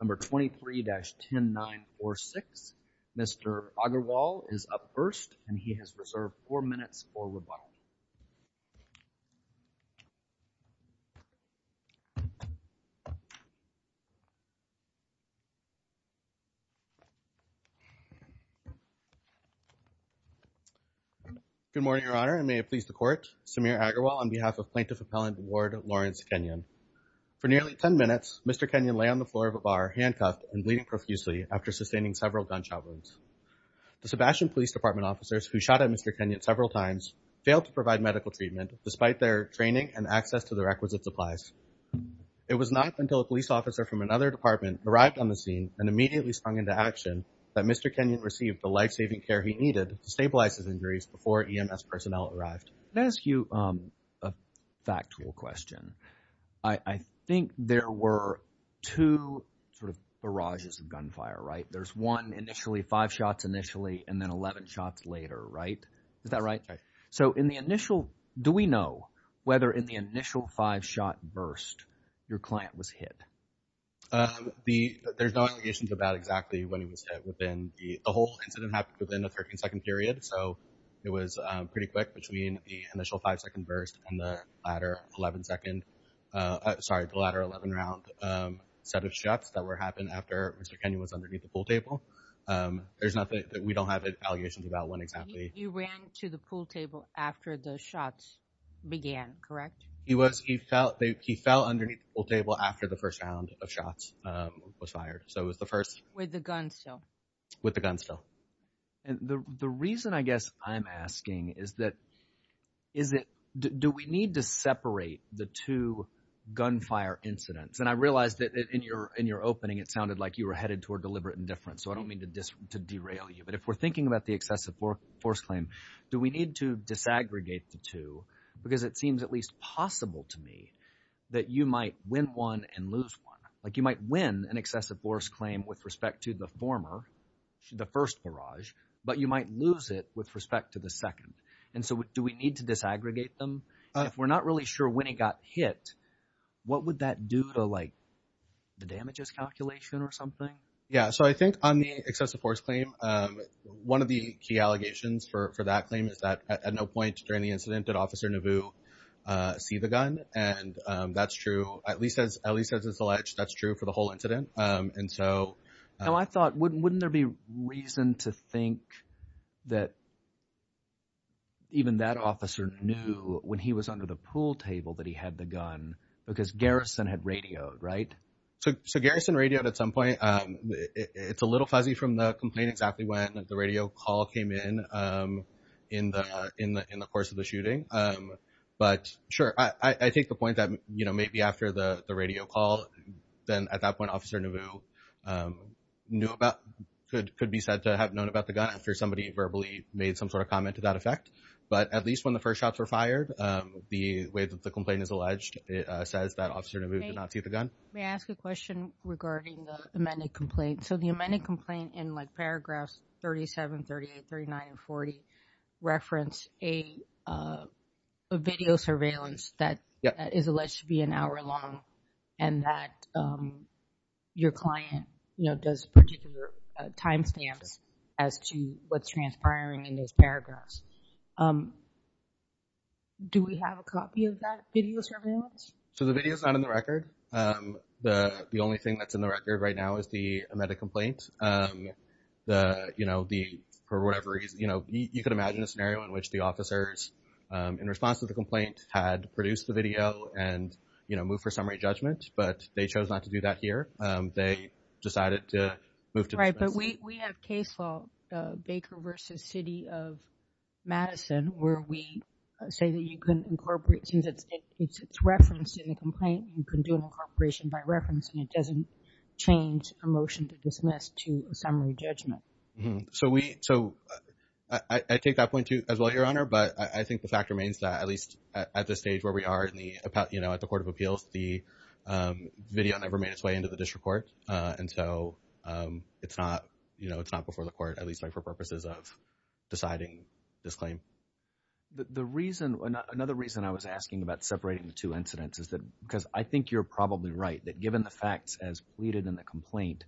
number 23-10 9 or 6 mr. Agarwal is up first and he has reserved four minutes for rebuttal good morning your honor and may it please the court Samir Agarwal on behalf of plaintiff appellant Ward Lawrence Kenyon for nearly 10 minutes mr. Kenyon lay on the floor of a bar handcuffed and bleeding profusely after sustaining several gunshot wounds the Sebastian Police Department officers who shot at mr. Kenyon several times failed to provide medical treatment despite their training and access to the requisite supplies it was not until a police officer from another department arrived on the scene and immediately sprung into action that mr. Kenyon received the life-saving care he needed to stabilize his injuries before EMS personnel arrived let's you a factual question I think there were two sort of barrages of gunfire right there's one initially five shots initially and then 11 shots later right is that right so in the initial do we know whether in the initial five shot burst your client was hit the there's no allegations about exactly when he was hit within the whole incident happened within a 13 second period so it was pretty quick between the initial five-second burst and the latter 11 second sorry the latter 11 round set of shots that were happened after mr. Kenyon was underneath the pool table there's nothing that we don't have it allegations about when exactly you ran to the pool table after the shots began correct he was he felt he fell underneath the table after the first round of shots was fired so it was the first with the gun so with the gun still and the reason I guess I'm asking is that is it do we need to separate the two gunfire incidents and I realized that in your in your opening it sounded like you were headed toward deliberate indifference so I don't mean to just to derail you but if we're thinking about the excessive force claim do we need to disaggregate the two because it seems at least possible to me that you might win one and lose one like you might win an excessive force claim with respect to the former the first barrage but you might lose it with respect to the second and so what do we need to disaggregate them if we're not really sure when he got hit what would that do to like the damages calculation or something yeah so I think on the excessive force claim one of the key allegations for that claim is that at no point during the incident that officer Nauvoo see the gun and that's true at least as at least as it's alleged that's true for the whole incident and so I thought wouldn't there be reason to think that even that officer knew when he was under the pool table that he had the gun because Garrison had radioed right so Garrison radioed at some point it's a little fuzzy from the complaint exactly when the radio call came in in the in the in the course of the shooting but sure I think the point that you know maybe after the radio call then at that point officer Nauvoo knew about could could be said to have known about the gun after somebody verbally made some sort of comment to that effect but at least when the first shots were fired the way that the complaint is alleged it says that officer Nauvoo did not see the gun may ask a question regarding the amended complaint so the amended complaint in like paragraphs 37 38 39 and 40 reference a video surveillance that is alleged to be an hour long and that your client you know does particular timestamps as to what's transpiring in those paragraphs do we have a copy of that video surveillance so the video is not in the record the the only thing that's in the record right now is the amended complaint the you know the for whatever reason you know you could imagine a scenario in which the officers in response to the complaint had produced the video and you know move for summary judgment but they chose not to do that here they decided to move to right but we have case law Baker versus City of Madison where we say that you can incorporate since it's it's it's referenced in the complaint you can do an incorporation by reference and it doesn't change a motion to dismiss to a so I take that point to as well your honor but I think the fact remains that at least at this stage where we are in the about you know at the Court of Appeals the video never made its way into the district court and so it's not you know it's not before the court at least like for purposes of deciding this claim the reason another reason I was asking about separating the two incidents is that because I think you're probably right that given the facts as in the complaint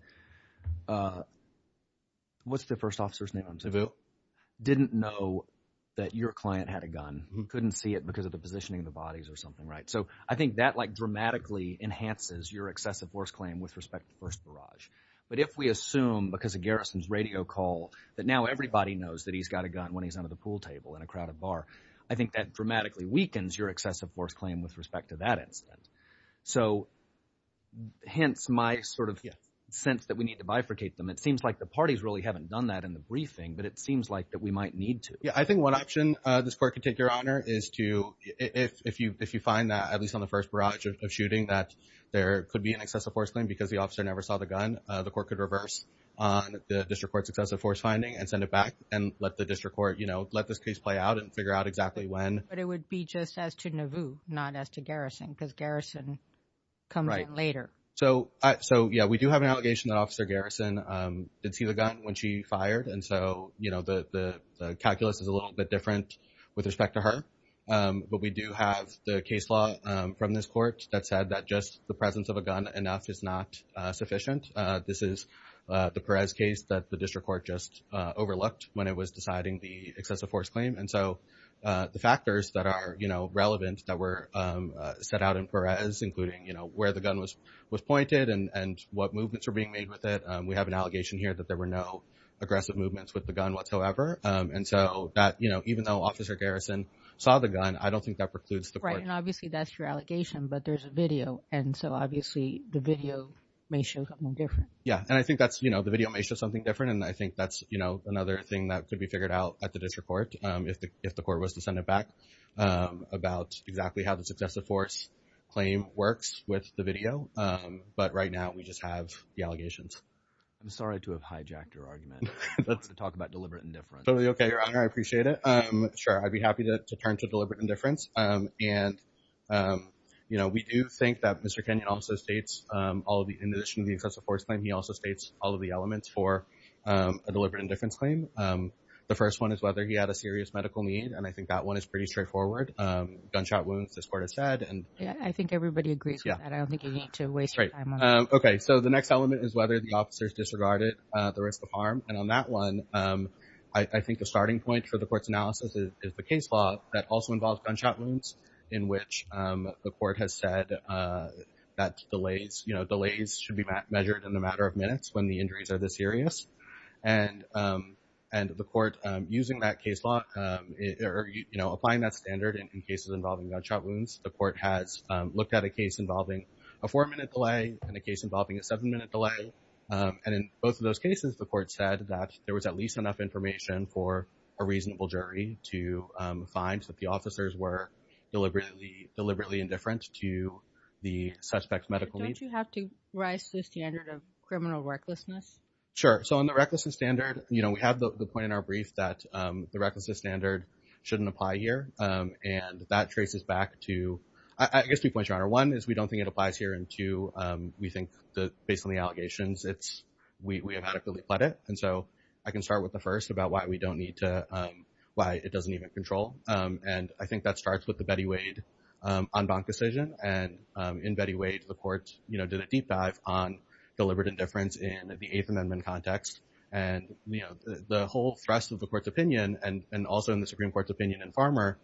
what's the first officer's name I'm to do didn't know that your client had a gun who couldn't see it because of the positioning of the bodies or something right so I think that like dramatically enhances your excessive force claim with respect to first barrage but if we assume because of garrisons radio call that now everybody knows that he's got a gun when he's under the pool table in a crowded bar I think that dramatically weakens your excessive force claim with respect to that incident so hence my sort of sense that we need to bifurcate them it seems like the parties really haven't done that in the briefing but it seems like that we might need to yeah I think one option this court could take your honor is to if you if you find that at least on the first barrage of shooting that there could be an excessive force claim because the officer never saw the gun the court could reverse on the district courts excessive force finding and send it back and let the district court you know let this case play out and figure out exactly when but it would be just as to Nauvoo not as to garrison because garrison come right later so I so yeah we do have an allegation that officer garrison did see the gun when she fired and so you know the calculus is a little bit different with respect to her but we do have the case law from this court that said that just the presence of a gun enough is not sufficient this is the Perez case that the district court just overlooked when it was deciding the excessive force claim and so the factors that are you know relevant that were set out in Perez including you know where the gun was was pointed and and what movements are being made with it we have an allegation here that there were no aggressive movements with the gun whatsoever and so that you know even though officer garrison saw the gun I don't think that precludes the right and obviously that's your allegation but there's a video and so obviously the video may show something different yeah and I think that's you know the video may show something different and I think that's you know another thing that could be figured out at the district court if the if the court was to send it back about exactly how the successive force claim works with the video but right now we just have the allegations I'm sorry to have hijacked your argument let's talk about deliberate indifference okay your honor I appreciate it I'm sure I'd be happy to turn to deliberate indifference and you know we do think that mr. Kenyon also states all the in addition to the excessive force claim he also states all of the elements for a deliberate indifference claim the first one is whether he had a serious medical need and I think that one is pretty straightforward gunshot wounds this court has said and yeah I think everybody agrees yeah I don't think you need to waste right okay so the next element is whether the officers disregarded the risk of harm and on that one I think the starting point for the court's analysis is the case law that also involves gunshot wounds in which the court has said that delays you know minutes when the injuries are this serious and and the court using that case law you know applying that standard in cases involving gunshot wounds the court has looked at a case involving a four minute delay and a case involving a seven minute delay and in both of those cases the court said that there was at least enough information for a reasonable jury to find that the officers were deliberately deliberately indifferent to the suspects medical you have to rise to the standard of criminal recklessness sure so on the recklessness standard you know we have the point in our brief that the recklessness standard shouldn't apply here and that traces back to I guess two points your honor one is we don't think it applies here and two we think the based on the allegations it's we have adequately pled it and so I can start with the first about why we don't need to why it doesn't even control and I think that starts with the Betty Wade on bank decision and in Betty Wade the court you know did a deep dive on deliberate indifference in the 8th Amendment context and you know the whole thrust of the court's opinion and and also in the Supreme Court's opinion and farmer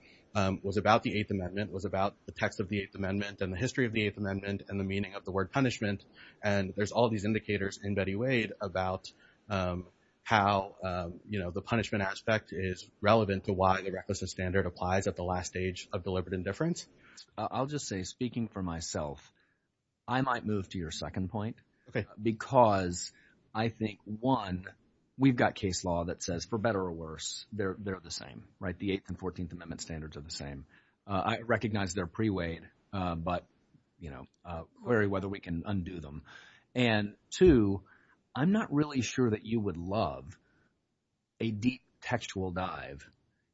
was about the 8th Amendment was about the text of the 8th Amendment and the history of the 8th Amendment and the meaning of the word punishment and there's all these indicators in Betty Wade about how you know the punishment aspect is relevant to why the recklessness standard applies at the last stage of deliberate indifference I'll just say speaking for myself I might move to your second point okay because I think one we've got case law that says for better or worse they're they're the same right the 8th and 14th Amendment standards are the same I recognize their pre-weight but you know worry whether we can undo them and two I'm not really sure that you would love a deep textual dive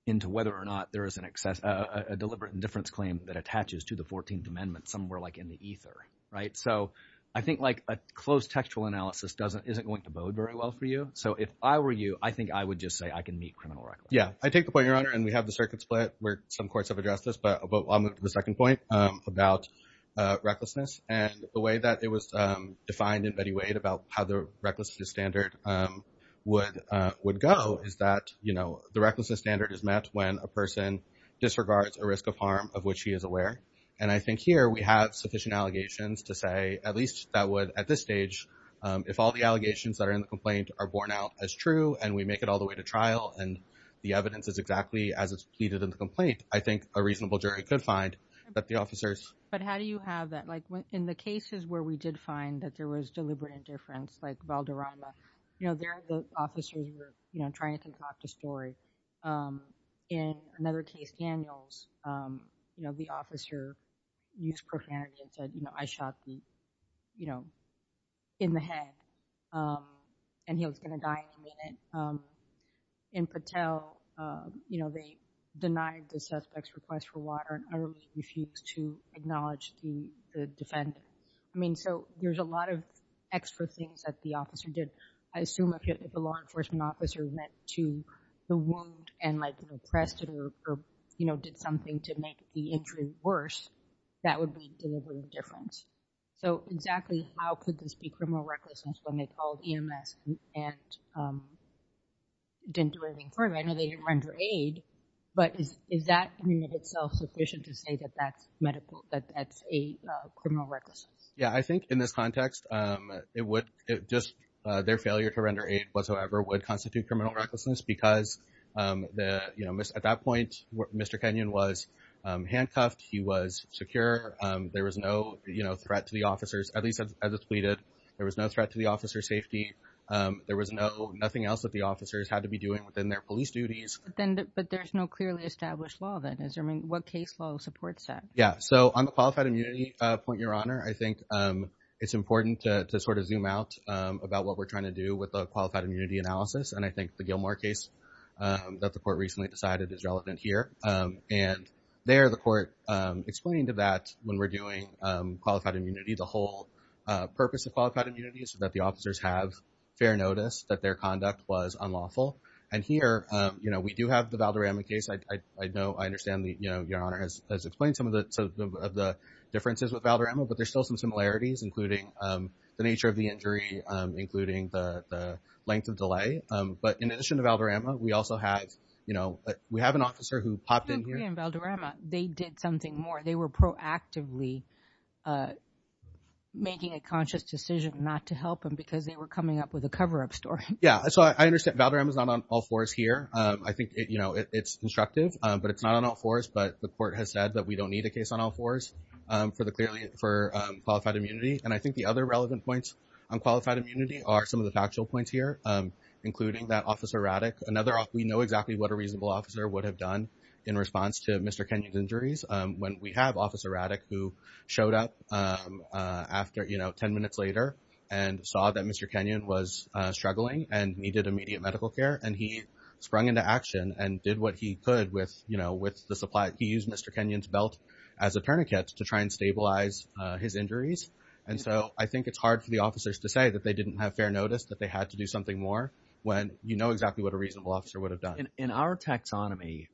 into whether or not there is an excess a deliberate indifference claim that attaches to the 14th Amendment somewhere like in the ether right so I think like a closed textual analysis doesn't isn't going to bode very well for you so if I were you I think I would just say I can meet criminal record yeah I take the point your honor and we have the circuit split where some courts have addressed this but the second point about recklessness and the way that it was defined in Betty Wade about how the recklessness standard would would go is that you know the recklessness standard is met when a person disregards a risk of harm of which he is aware and I think here we have sufficient allegations to say at least that would at this stage if all the allegations that are in the complaint are borne out as true and we make it all the way to trial and the evidence is exactly as it's pleaded in the complaint I think a reasonable jury could find that the officers but how do you have that like in the cases where we did find that there was deliberate indifference like Valderrama you know the officers were you know trying to talk to story in another case Daniels you know the officer used profanity and said you know I shot the you know in the head and he was gonna die in a minute in Patel you know they denied the suspects request for water and early refused to acknowledge the defendant I mean so there's a lot of extra things that the officer did I assume if the law enforcement officer met to the wound and like you know pressed it or you know did something to make the injury worse that would be deliberate indifference so exactly how could this be criminal recklessness when they called EMS and didn't do anything for him I know they didn't render aid but is that in itself sufficient to say that that's medical that that's a criminal recklessness yeah I think in this context it would it just their failure to render aid whatsoever would constitute criminal recklessness because the you know miss at that point what mr. Kenyon was handcuffed he was secure there was no you know threat to the officers at least as it's pleaded there was no threat to the officer safety there was no nothing else that the officers had to be doing within their police duties then but there's no clearly established law that is I mean what case law supports that yeah so on the qualified immunity point your honor I think it's important to sort of zoom out about what we're trying to do with a qualified immunity analysis and I think the Gilmore case that the court recently decided is relevant here and there the court explained to that when we're doing qualified immunity the whole purpose of qualified immunity so that the officers have fair notice that their conduct was unlawful and here you know we do have the Valderrama case I know I understand that you know your but there's still some similarities including the nature of the injury including the length of delay but in addition to Valderrama we also have you know we have an officer who popped in Valderrama they did something more they were proactively making a conscious decision not to help him because they were coming up with a cover-up story yeah so I understand Valderrama is not on all fours here I think it you know it's constructive but it's not on all fours but the court has said that we don't need a case on all fours for the for qualified immunity and I think the other relevant points on qualified immunity are some of the factual points here including that officer Radek another off we know exactly what a reasonable officer would have done in response to mr. Kenyon's injuries when we have officer Radek who showed up after you know ten minutes later and saw that mr. Kenyon was struggling and needed immediate medical care and he sprung into action and did what he could with you know with the supply he used mr. Kenyon's belt as a tourniquet to try and stabilize his injuries and so I think it's hard for the officers to say that they didn't have fair notice that they had to do something more when you know exactly what a reasonable officer would have done in our taxonomy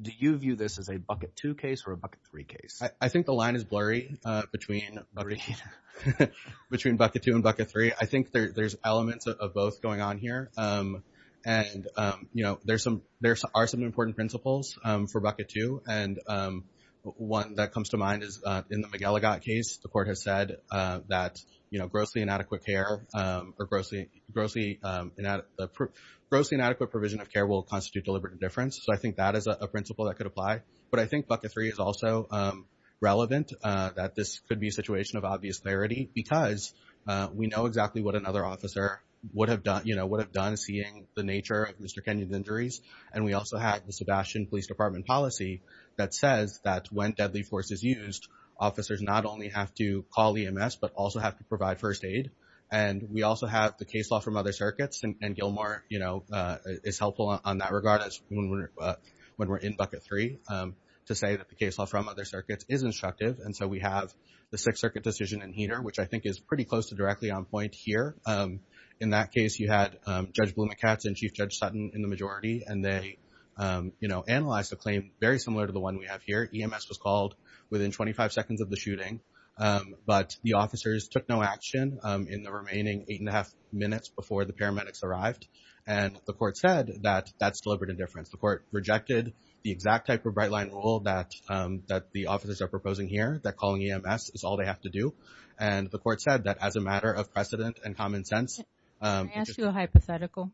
do you view this as a bucket two case or a bucket three case I think the line is blurry between between bucket two and bucket three I think there's elements of both going on here and you know there's some there are some important principles for bucket two and one that comes to mind is in the McGillicott case the court has said that you know grossly inadequate care or grossly grossly grossly inadequate provision of care will constitute deliberate indifference so I think that is a principle that could apply but I think bucket three is also relevant that this could be a situation of obvious clarity because we know exactly what another officer would have done you know would have done seeing the nature of mr. injuries and we also have the Sebastian Police Department policy that says that when deadly force is used officers not only have to call EMS but also have to provide first aid and we also have the case law from other circuits and Gilmore you know is helpful on that regard as when we're in bucket three to say that the case law from other circuits is instructive and so we have the Sixth Circuit decision in heater which I think is pretty close to directly on point here in that case you had Judge Blumenthal and Chief Judge Sutton in the majority and they you know analyze the claim very similar to the one we have here EMS was called within 25 seconds of the shooting but the officers took no action in the remaining eight and a half minutes before the paramedics arrived and the court said that that's deliberate indifference the court rejected the exact type of bright-line rule that that the officers are proposing here that calling EMS is all they have to do and the court said that as a matter of precedent and common sense hypothetical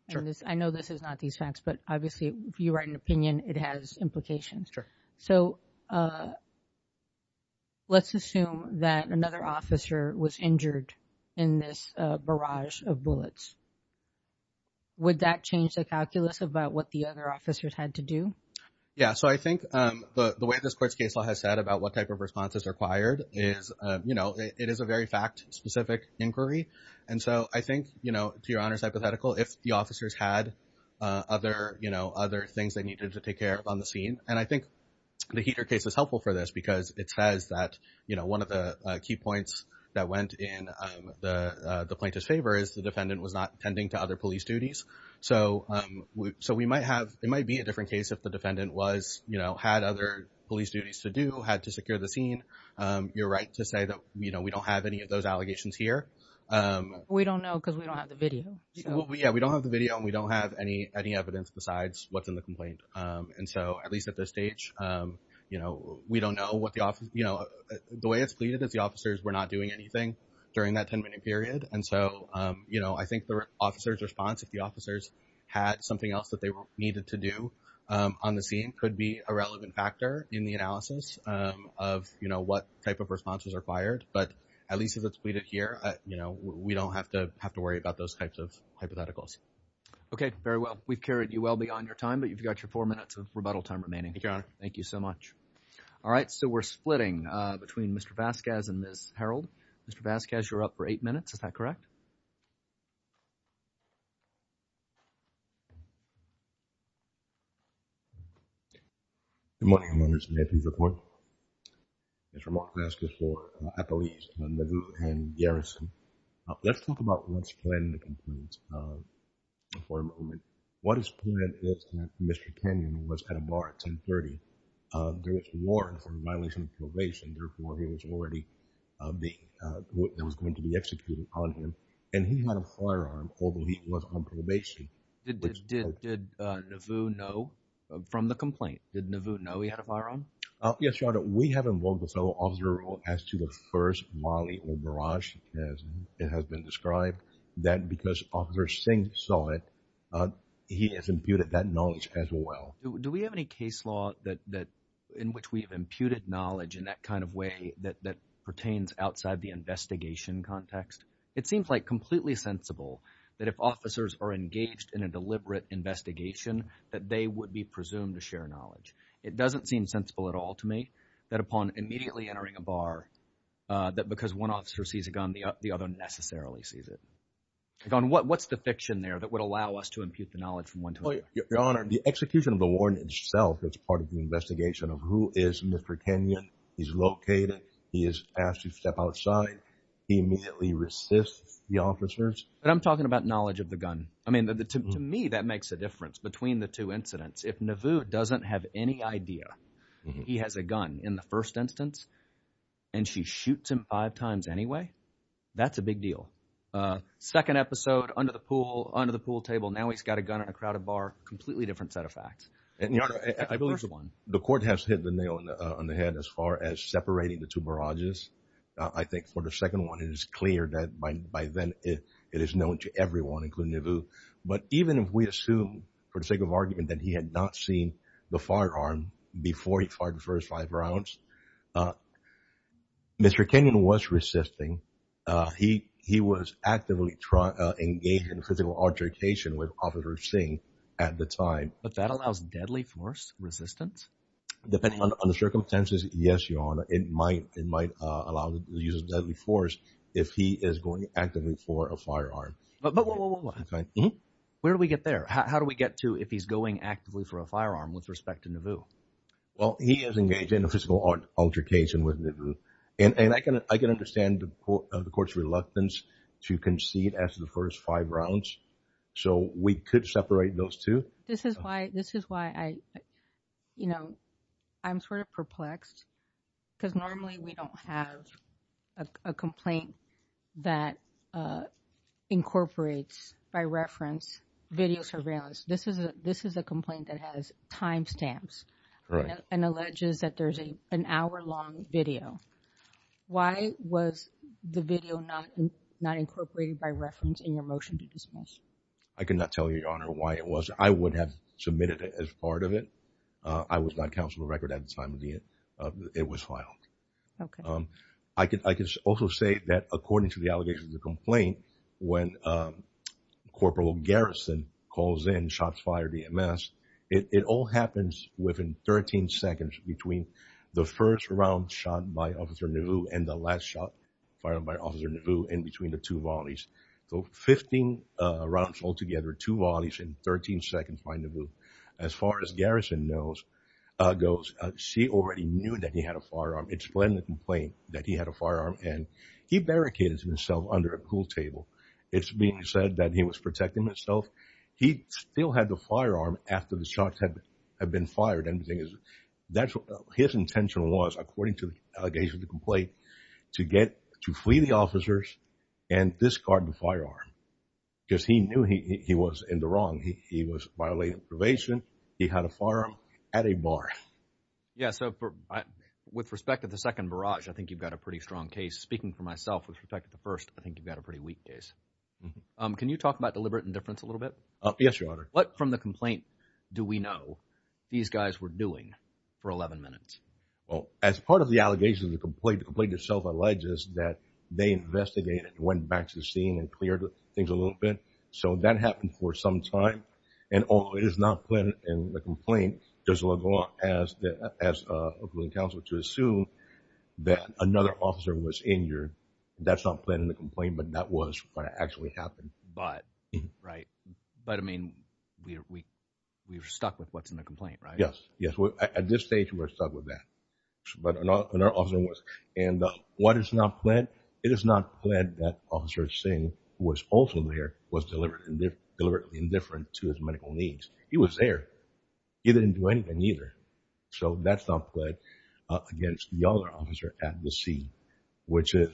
I know this is not these facts but obviously if you write an opinion it has implications so let's assume that another officer was injured in this barrage of bullets would that change the calculus about what the other officers had to do yeah so I think the way this court's case law has said about what type of response is required is you know it is a very fact-specific inquiry and so I think you know to your honors hypothetical if the officers had other you know other things they needed to take care of on the scene and I think the heater case is helpful for this because it says that you know one of the key points that went in the plaintiff's favor is the defendant was not tending to other police duties so we so we might have it might be a different case if the defendant was you know had other police duties to do had to secure the scene you're right to say that you know we don't have any of those allegations here we don't know because we don't have the video yeah we don't have the video and we don't have any any evidence besides what's in the complaint and so at least at this stage you know we don't know what the office you know the way it's pleaded that the officers were not doing anything during that 10-minute period and so you know I think the officers response if the officers had something else that they needed to do on the scene could be a relevant factor in the analysis of you know what type of responses are fired but at least as it's pleaded here you know we don't have to have to worry about those types of hypotheticals okay very well we've carried you well beyond your time but you've got your four minutes of rebuttal time remaining thank you so much all right so we're splitting between mr. Vasquez and this Harold mr. Vasquez you're up for eight minutes is that correct good morning I'm on this may please report mr. Mark Vasquez for at the least on the blue and Garrison let's talk about what's planned to complete for a moment what is pointed is that mr. Kenyon was at a bar at 1030 there was warrants and violation of probation therefore he was already being there was going to be executed on him and he had a firearm although he was on probation did Navoo know from the complaint did Navoo know he had a firearm yes we have involved the fellow officer as to the first Molly or barrage as it has been described that because officer Singh saw it he has imputed that knowledge as well do we have any case law that that in which we have imputed knowledge in that kind of way that that pertains outside the investigation context it seems like completely sensible that if officers are engaged in a deliberate investigation that they would be presumed to share knowledge it doesn't seem sensible at all to me that upon immediately entering a bar that because one officer sees a gun the other necessarily sees it on what what's the fiction there that would allow us to impute the knowledge from one to another the execution of the warrant itself that's part of the investigation of who is mr. Kenyon he's located he is asked to step outside he immediately resists the officers but I'm talking about knowledge of the gun I mean that the to me that makes a difference between the two incidents if Navoo doesn't have any idea he has a gun in the first instance and she shoots him five times anyway that's a big deal second episode under the pool under the pool table now he's got a gun in a crowded bar completely different set of facts and you know I believe the one the court has hit the nail on the head as far as separating the two barrages I think for the second one it is clear that by then it is known to everyone including you but even if we assume for the sake of argument that he had not seen the firearm before he fired the first five rounds mr. Kenyon was resisting he he was actively engaged in physical altercation with officer Singh at the time but that allows deadly force resistance depending on the circumstances yes your honor it might it might allow the use of deadly force if he is going actively for a firearm but where do we get there how do we get to if he's going actively for a firearm with respect to Nauvoo well he is engaged in a physical altercation with Nauvoo and I can I can understand the court of the courts reluctance to concede after the first five rounds so we could separate those two this is why this is why I you know I'm sort of perplexed because normally we don't have a complaint that incorporates by reference video surveillance this is a this is a complaint that has time stamps and alleges that there's a an hour-long video why was the video not not incorporated by reference in your motion to dismiss I cannot tell you your honor why it was I would have submitted it as part of it I was not counsel a record at the time of the it it was filed okay I could I could also say that according to the allegations of the complaint when corporal Garrison calls in shots fired EMS it all happens within 13 seconds between the first round shot by officer Nauvoo and the last shot fired by officer Nauvoo in between the two volleys so 15 rounds altogether two volleys in 13 seconds by Nauvoo as far as Garrison knows goes she already knew that he had a firearm explain the complaint that he had a firearm and he barricaded himself under a pool table it's being said that he was protecting himself he still had the firearm after the shots had been fired anything is that his intention was according to the allegations of the complaint to get to flee the officers and discard the firearm because he knew he was in the wrong he was violating probation he had a firearm at a bar yeah so with respect to the second barrage I think you've got a pretty strong case speaking for myself with respect to the first I think you've got a pretty weak case can you talk about deliberate indifference a little bit yes your honor what from the complaint do we know these guys were doing for 11 minutes well as part of the allegations of the complaint the complaint itself alleges that they investigated went back to seeing and cleared things a little bit so that happened for some time and all it is not planned in the complaint there's a lot as the as a ruling counsel to assume that another officer was injured that's not planning the complaint but that was what actually happened but right but I mean we we were stuck with what's in the complaint right yes yes well at this stage we're stuck with that but another officer was and what is not planned it is not planned that officer Singh who was also there was delivered and they're deliberately indifferent to his medical needs he was there he didn't do anything either so that's not good against the other officer at the scene which is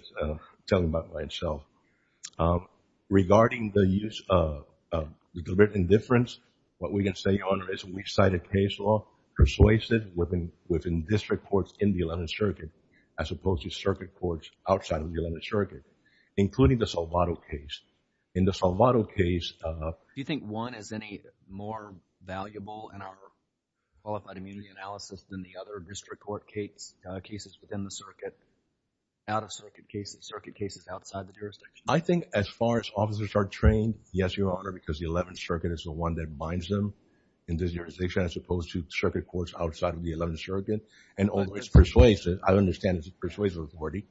telling about by itself regarding the use of the deliberate indifference what we can say we've cited case law persuasive within within district courts in the 11th circuit as opposed to circuit courts outside of the 11th circuit including the Salvato case in the Salvato case do you think one is any more valuable in our qualified immunity analysis than the other district court case cases within the circuit out-of-circuit cases circuit cases outside the jurisdiction I think as far as officers are trained yes your honor because the 11th circuit is the one that binds them in this jurisdiction as opposed to circuit courts outside of the 11th circuit and always persuasive I understand it persuasive authority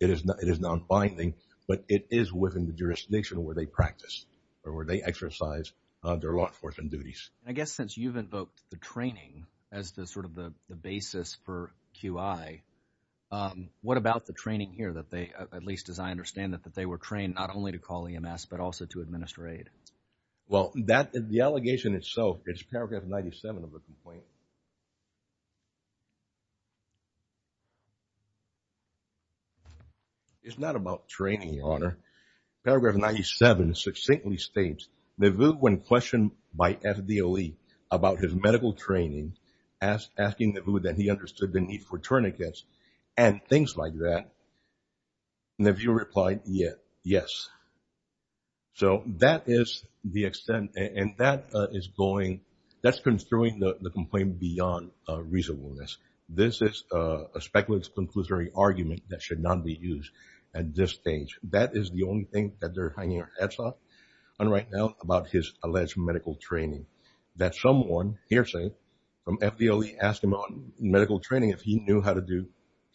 it is not it is not binding but it is within the jurisdiction where they practice or where they exercise their law enforcement duties I guess since you've invoked the training as the sort of the basis for QI what about the training here that they at least as I understand that that they were trained not only to EMS but also to administrate well that is the allegation itself it's paragraph 97 of the complaint it's not about training honor paragraph 97 succinctly states the vote when questioned by FDOE about his medical training as asking the food that he understood the need for tourniquets and things like that and if you reply yes so that is the extent and that is going that's been throwing the complaint beyond reasonableness this is a speculative conclusory argument that should not be used at this stage that is the only thing that they're hanging our heads off on right now about his alleged medical training that someone hearsay from FDOE asked him on medical training if he knew how to do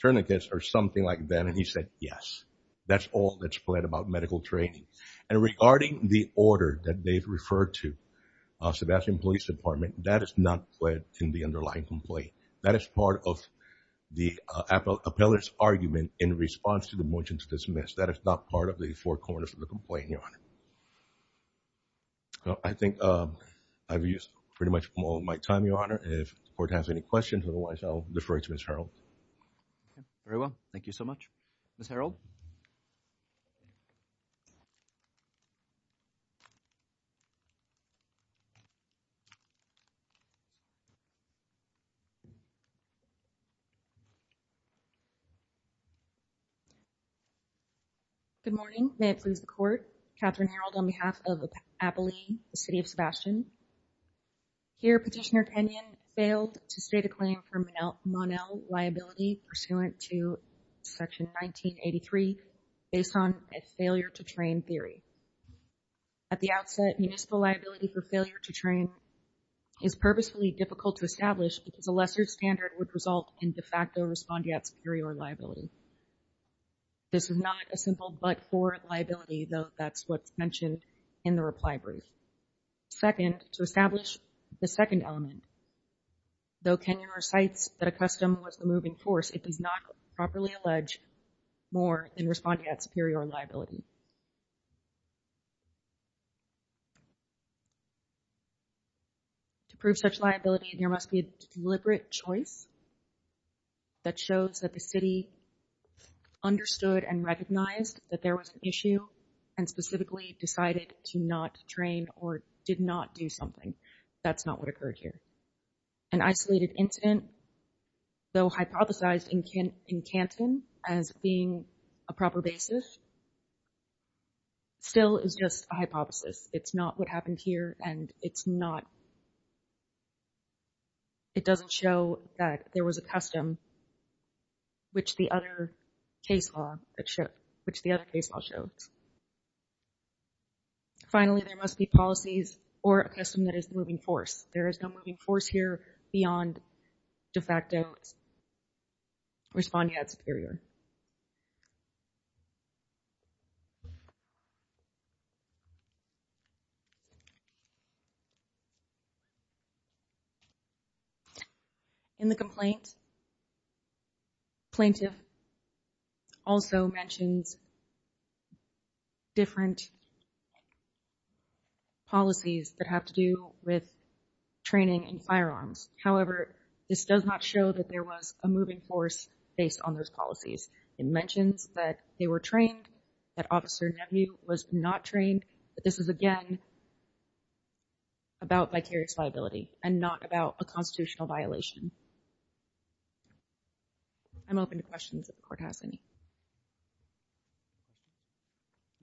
tourniquets or something like that and he said yes that's all that's played about medical training and regarding the order that they've referred to Sebastian Police Department that is not put in the underlying complaint that is part of the appellate appellate argument in response to the motion to dismiss that it's not part of the four corners of the complaint your honor I think I've used pretty much all my time your honor if court has any questions otherwise I'll defer to miss Harold very well thank you so much miss Harold good morning may it please the court Catherine Harold on behalf of the appellee the city of Sebastian here petitioner Kenyon failed to state a liability pursuant to section 1983 based on a failure to train theory at the outset municipal liability for failure to train is purposefully difficult to establish because a lesser standard would result in de facto respond yet superior liability this is not a simple but for liability though that's what's mentioned in the reply brief second to establish the second element though Kenyon recites that a custom was the moving force it does not properly allege more than responding at superior liability to prove such liability there must be a deliberate choice that shows that the city understood and recognized that there was an issue and specifically decided to not train or did not do something that's not what occurred here an isolated incident though hypothesized in Kent in Canton as being a proper basis still is just a hypothesis it's not what happened here and it's not it doesn't show that there was a custom which the other case law that show which the other case I'll show finally there must be policies or a custom that is moving force there is no moving force here beyond de facto respond yet superior in the complaint plaintiff also mentions different policies that have to do with training and firearms however this does not show that there was a force based on those policies it mentions that they were trained at officer you was not trained this is again about vicarious liability and not about a constitutional violation I'm open to questions of court has any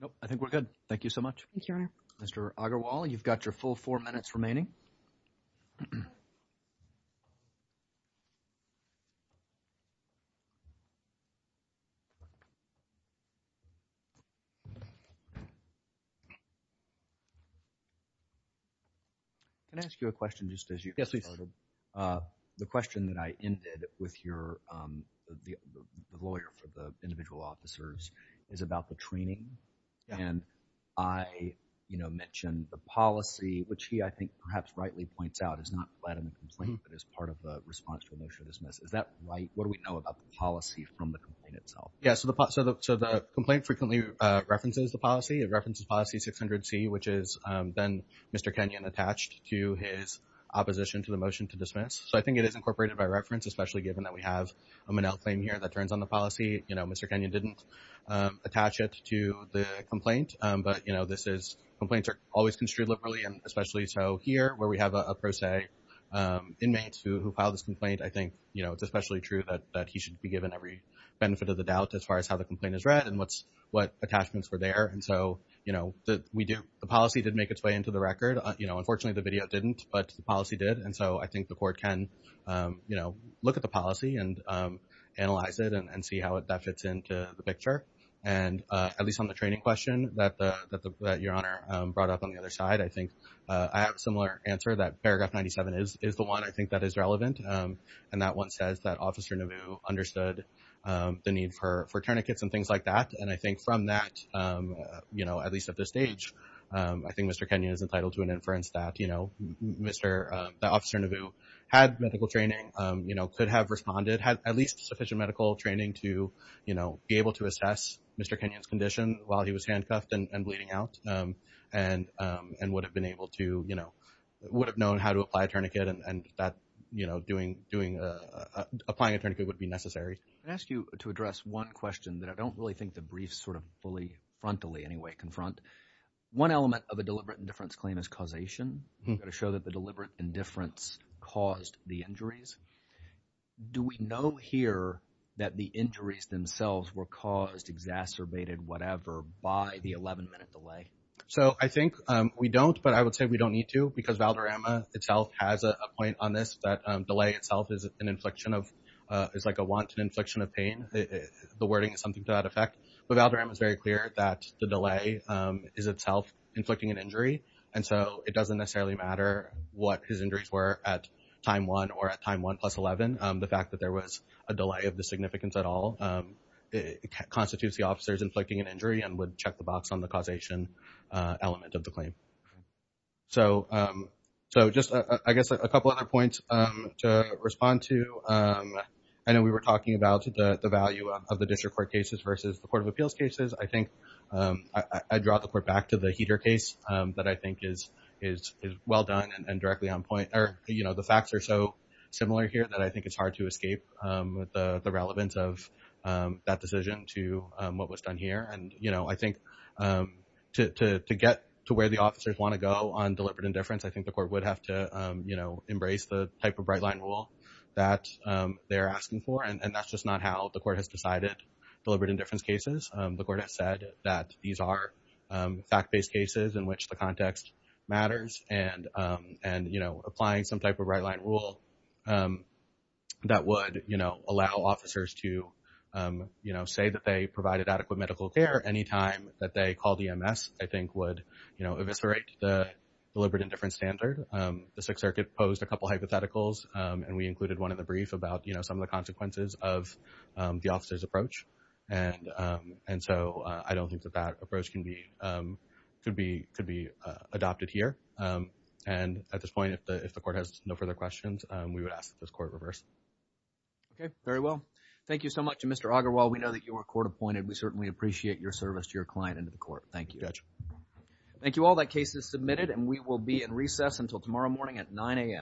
nope I think we're good thank you so much mr. Agarwal you've got your full four minutes remaining and ask you a question just as you get the question that I ended with your lawyer for the individual officers is about the training and I you know mentioned the policy which he I think perhaps rightly points out is not let him complain but as part of the response to a motion dismiss is that right what do we know about the policy from the complaint itself yes so the pot so the so the complaint frequently references the policy it references policy 600 C which is then mr. Kenyon attached to his opposition to the motion to dismiss so I think it is incorporated by reference especially given that we have a manel claim here that turns on the policy you know mr. Kenyon didn't attach it to the complaint but you know this is complaints are always construed liberally and especially so here where we have a pro se inmates who filed this complaint I think you know it's especially true that that he should be given every benefit of the doubt as far as how the complaint is read and what's what attachments were there and so you know that we do the policy did make its way into the record you know unfortunately the video didn't but the policy did and so I think the court can you know look at the policy and analyze it and see how it that fits into the picture and at least on the training question that the your honor brought up on the other side I think I have a similar answer that paragraph 97 is is the one I think that is relevant and that one says that officer Neville understood the need for for tourniquets and things like that and I think from that you know at least at this stage I think mr. Kenyon is entitled to an inference that you know mr. the officer Neville had medical training you know could have responded had at least sufficient medical training to you know be able to assess mr. Kenyon's condition while he was handcuffed and bleeding out and and would have been able to you know would have known how to apply a tourniquet and and that you know doing doing applying a tourniquet would be necessary ask you to address one question that I don't really think the briefs sort of fully frontally anyway confront one element of a deliberate indifference claim is causation I'm going that the deliberate indifference caused the injuries do we know here that the injuries themselves were caused exacerbated whatever by the 11-minute delay so I think we don't but I would say we don't need to because Valderrama itself has a point on this that delay itself is an inflection of it's like a wanton inflection of pain the wording is something to that effect but Valderrama is very clear that the delay is itself inflicting an injury and so it doesn't necessarily matter what his injuries were at time 1 or at time 1 plus 11 the fact that there was a delay of the significance at all it constitutes the officers inflicting an injury and would check the box on the causation element of the claim so so just I guess a couple other points to respond to I know we were talking about the value of the district court cases versus the Court of Appeals cases I think I draw the court back to the your case that I think is is well done and directly on point or you know the facts are so similar here that I think it's hard to escape the relevance of that decision to what was done here and you know I think to get to where the officers want to go on deliberate indifference I think the court would have to you know embrace the type of bright-line rule that they're asking for and that's just not how the court has decided deliberate indifference cases the court has said that these are fact-based cases in which the context matters and and you know applying some type of right-line rule that would you know allow officers to you know say that they provided adequate medical care anytime that they call DMS I think would you know eviscerate the deliberate indifference standard the Sixth Circuit posed a couple hypotheticals and we included one in the brief about you know some of the consequences of the officer's approach and and so I don't think that that approach can be could be could be adopted here and at this point if the if the court has no further questions we would ask this court reverse okay very well thank you so much to mr. Agarwal we know that you were court-appointed we certainly appreciate your service to your client into the court thank you judge thank you all that case is submitted and we will be in recess until tomorrow morning at 9 a.m.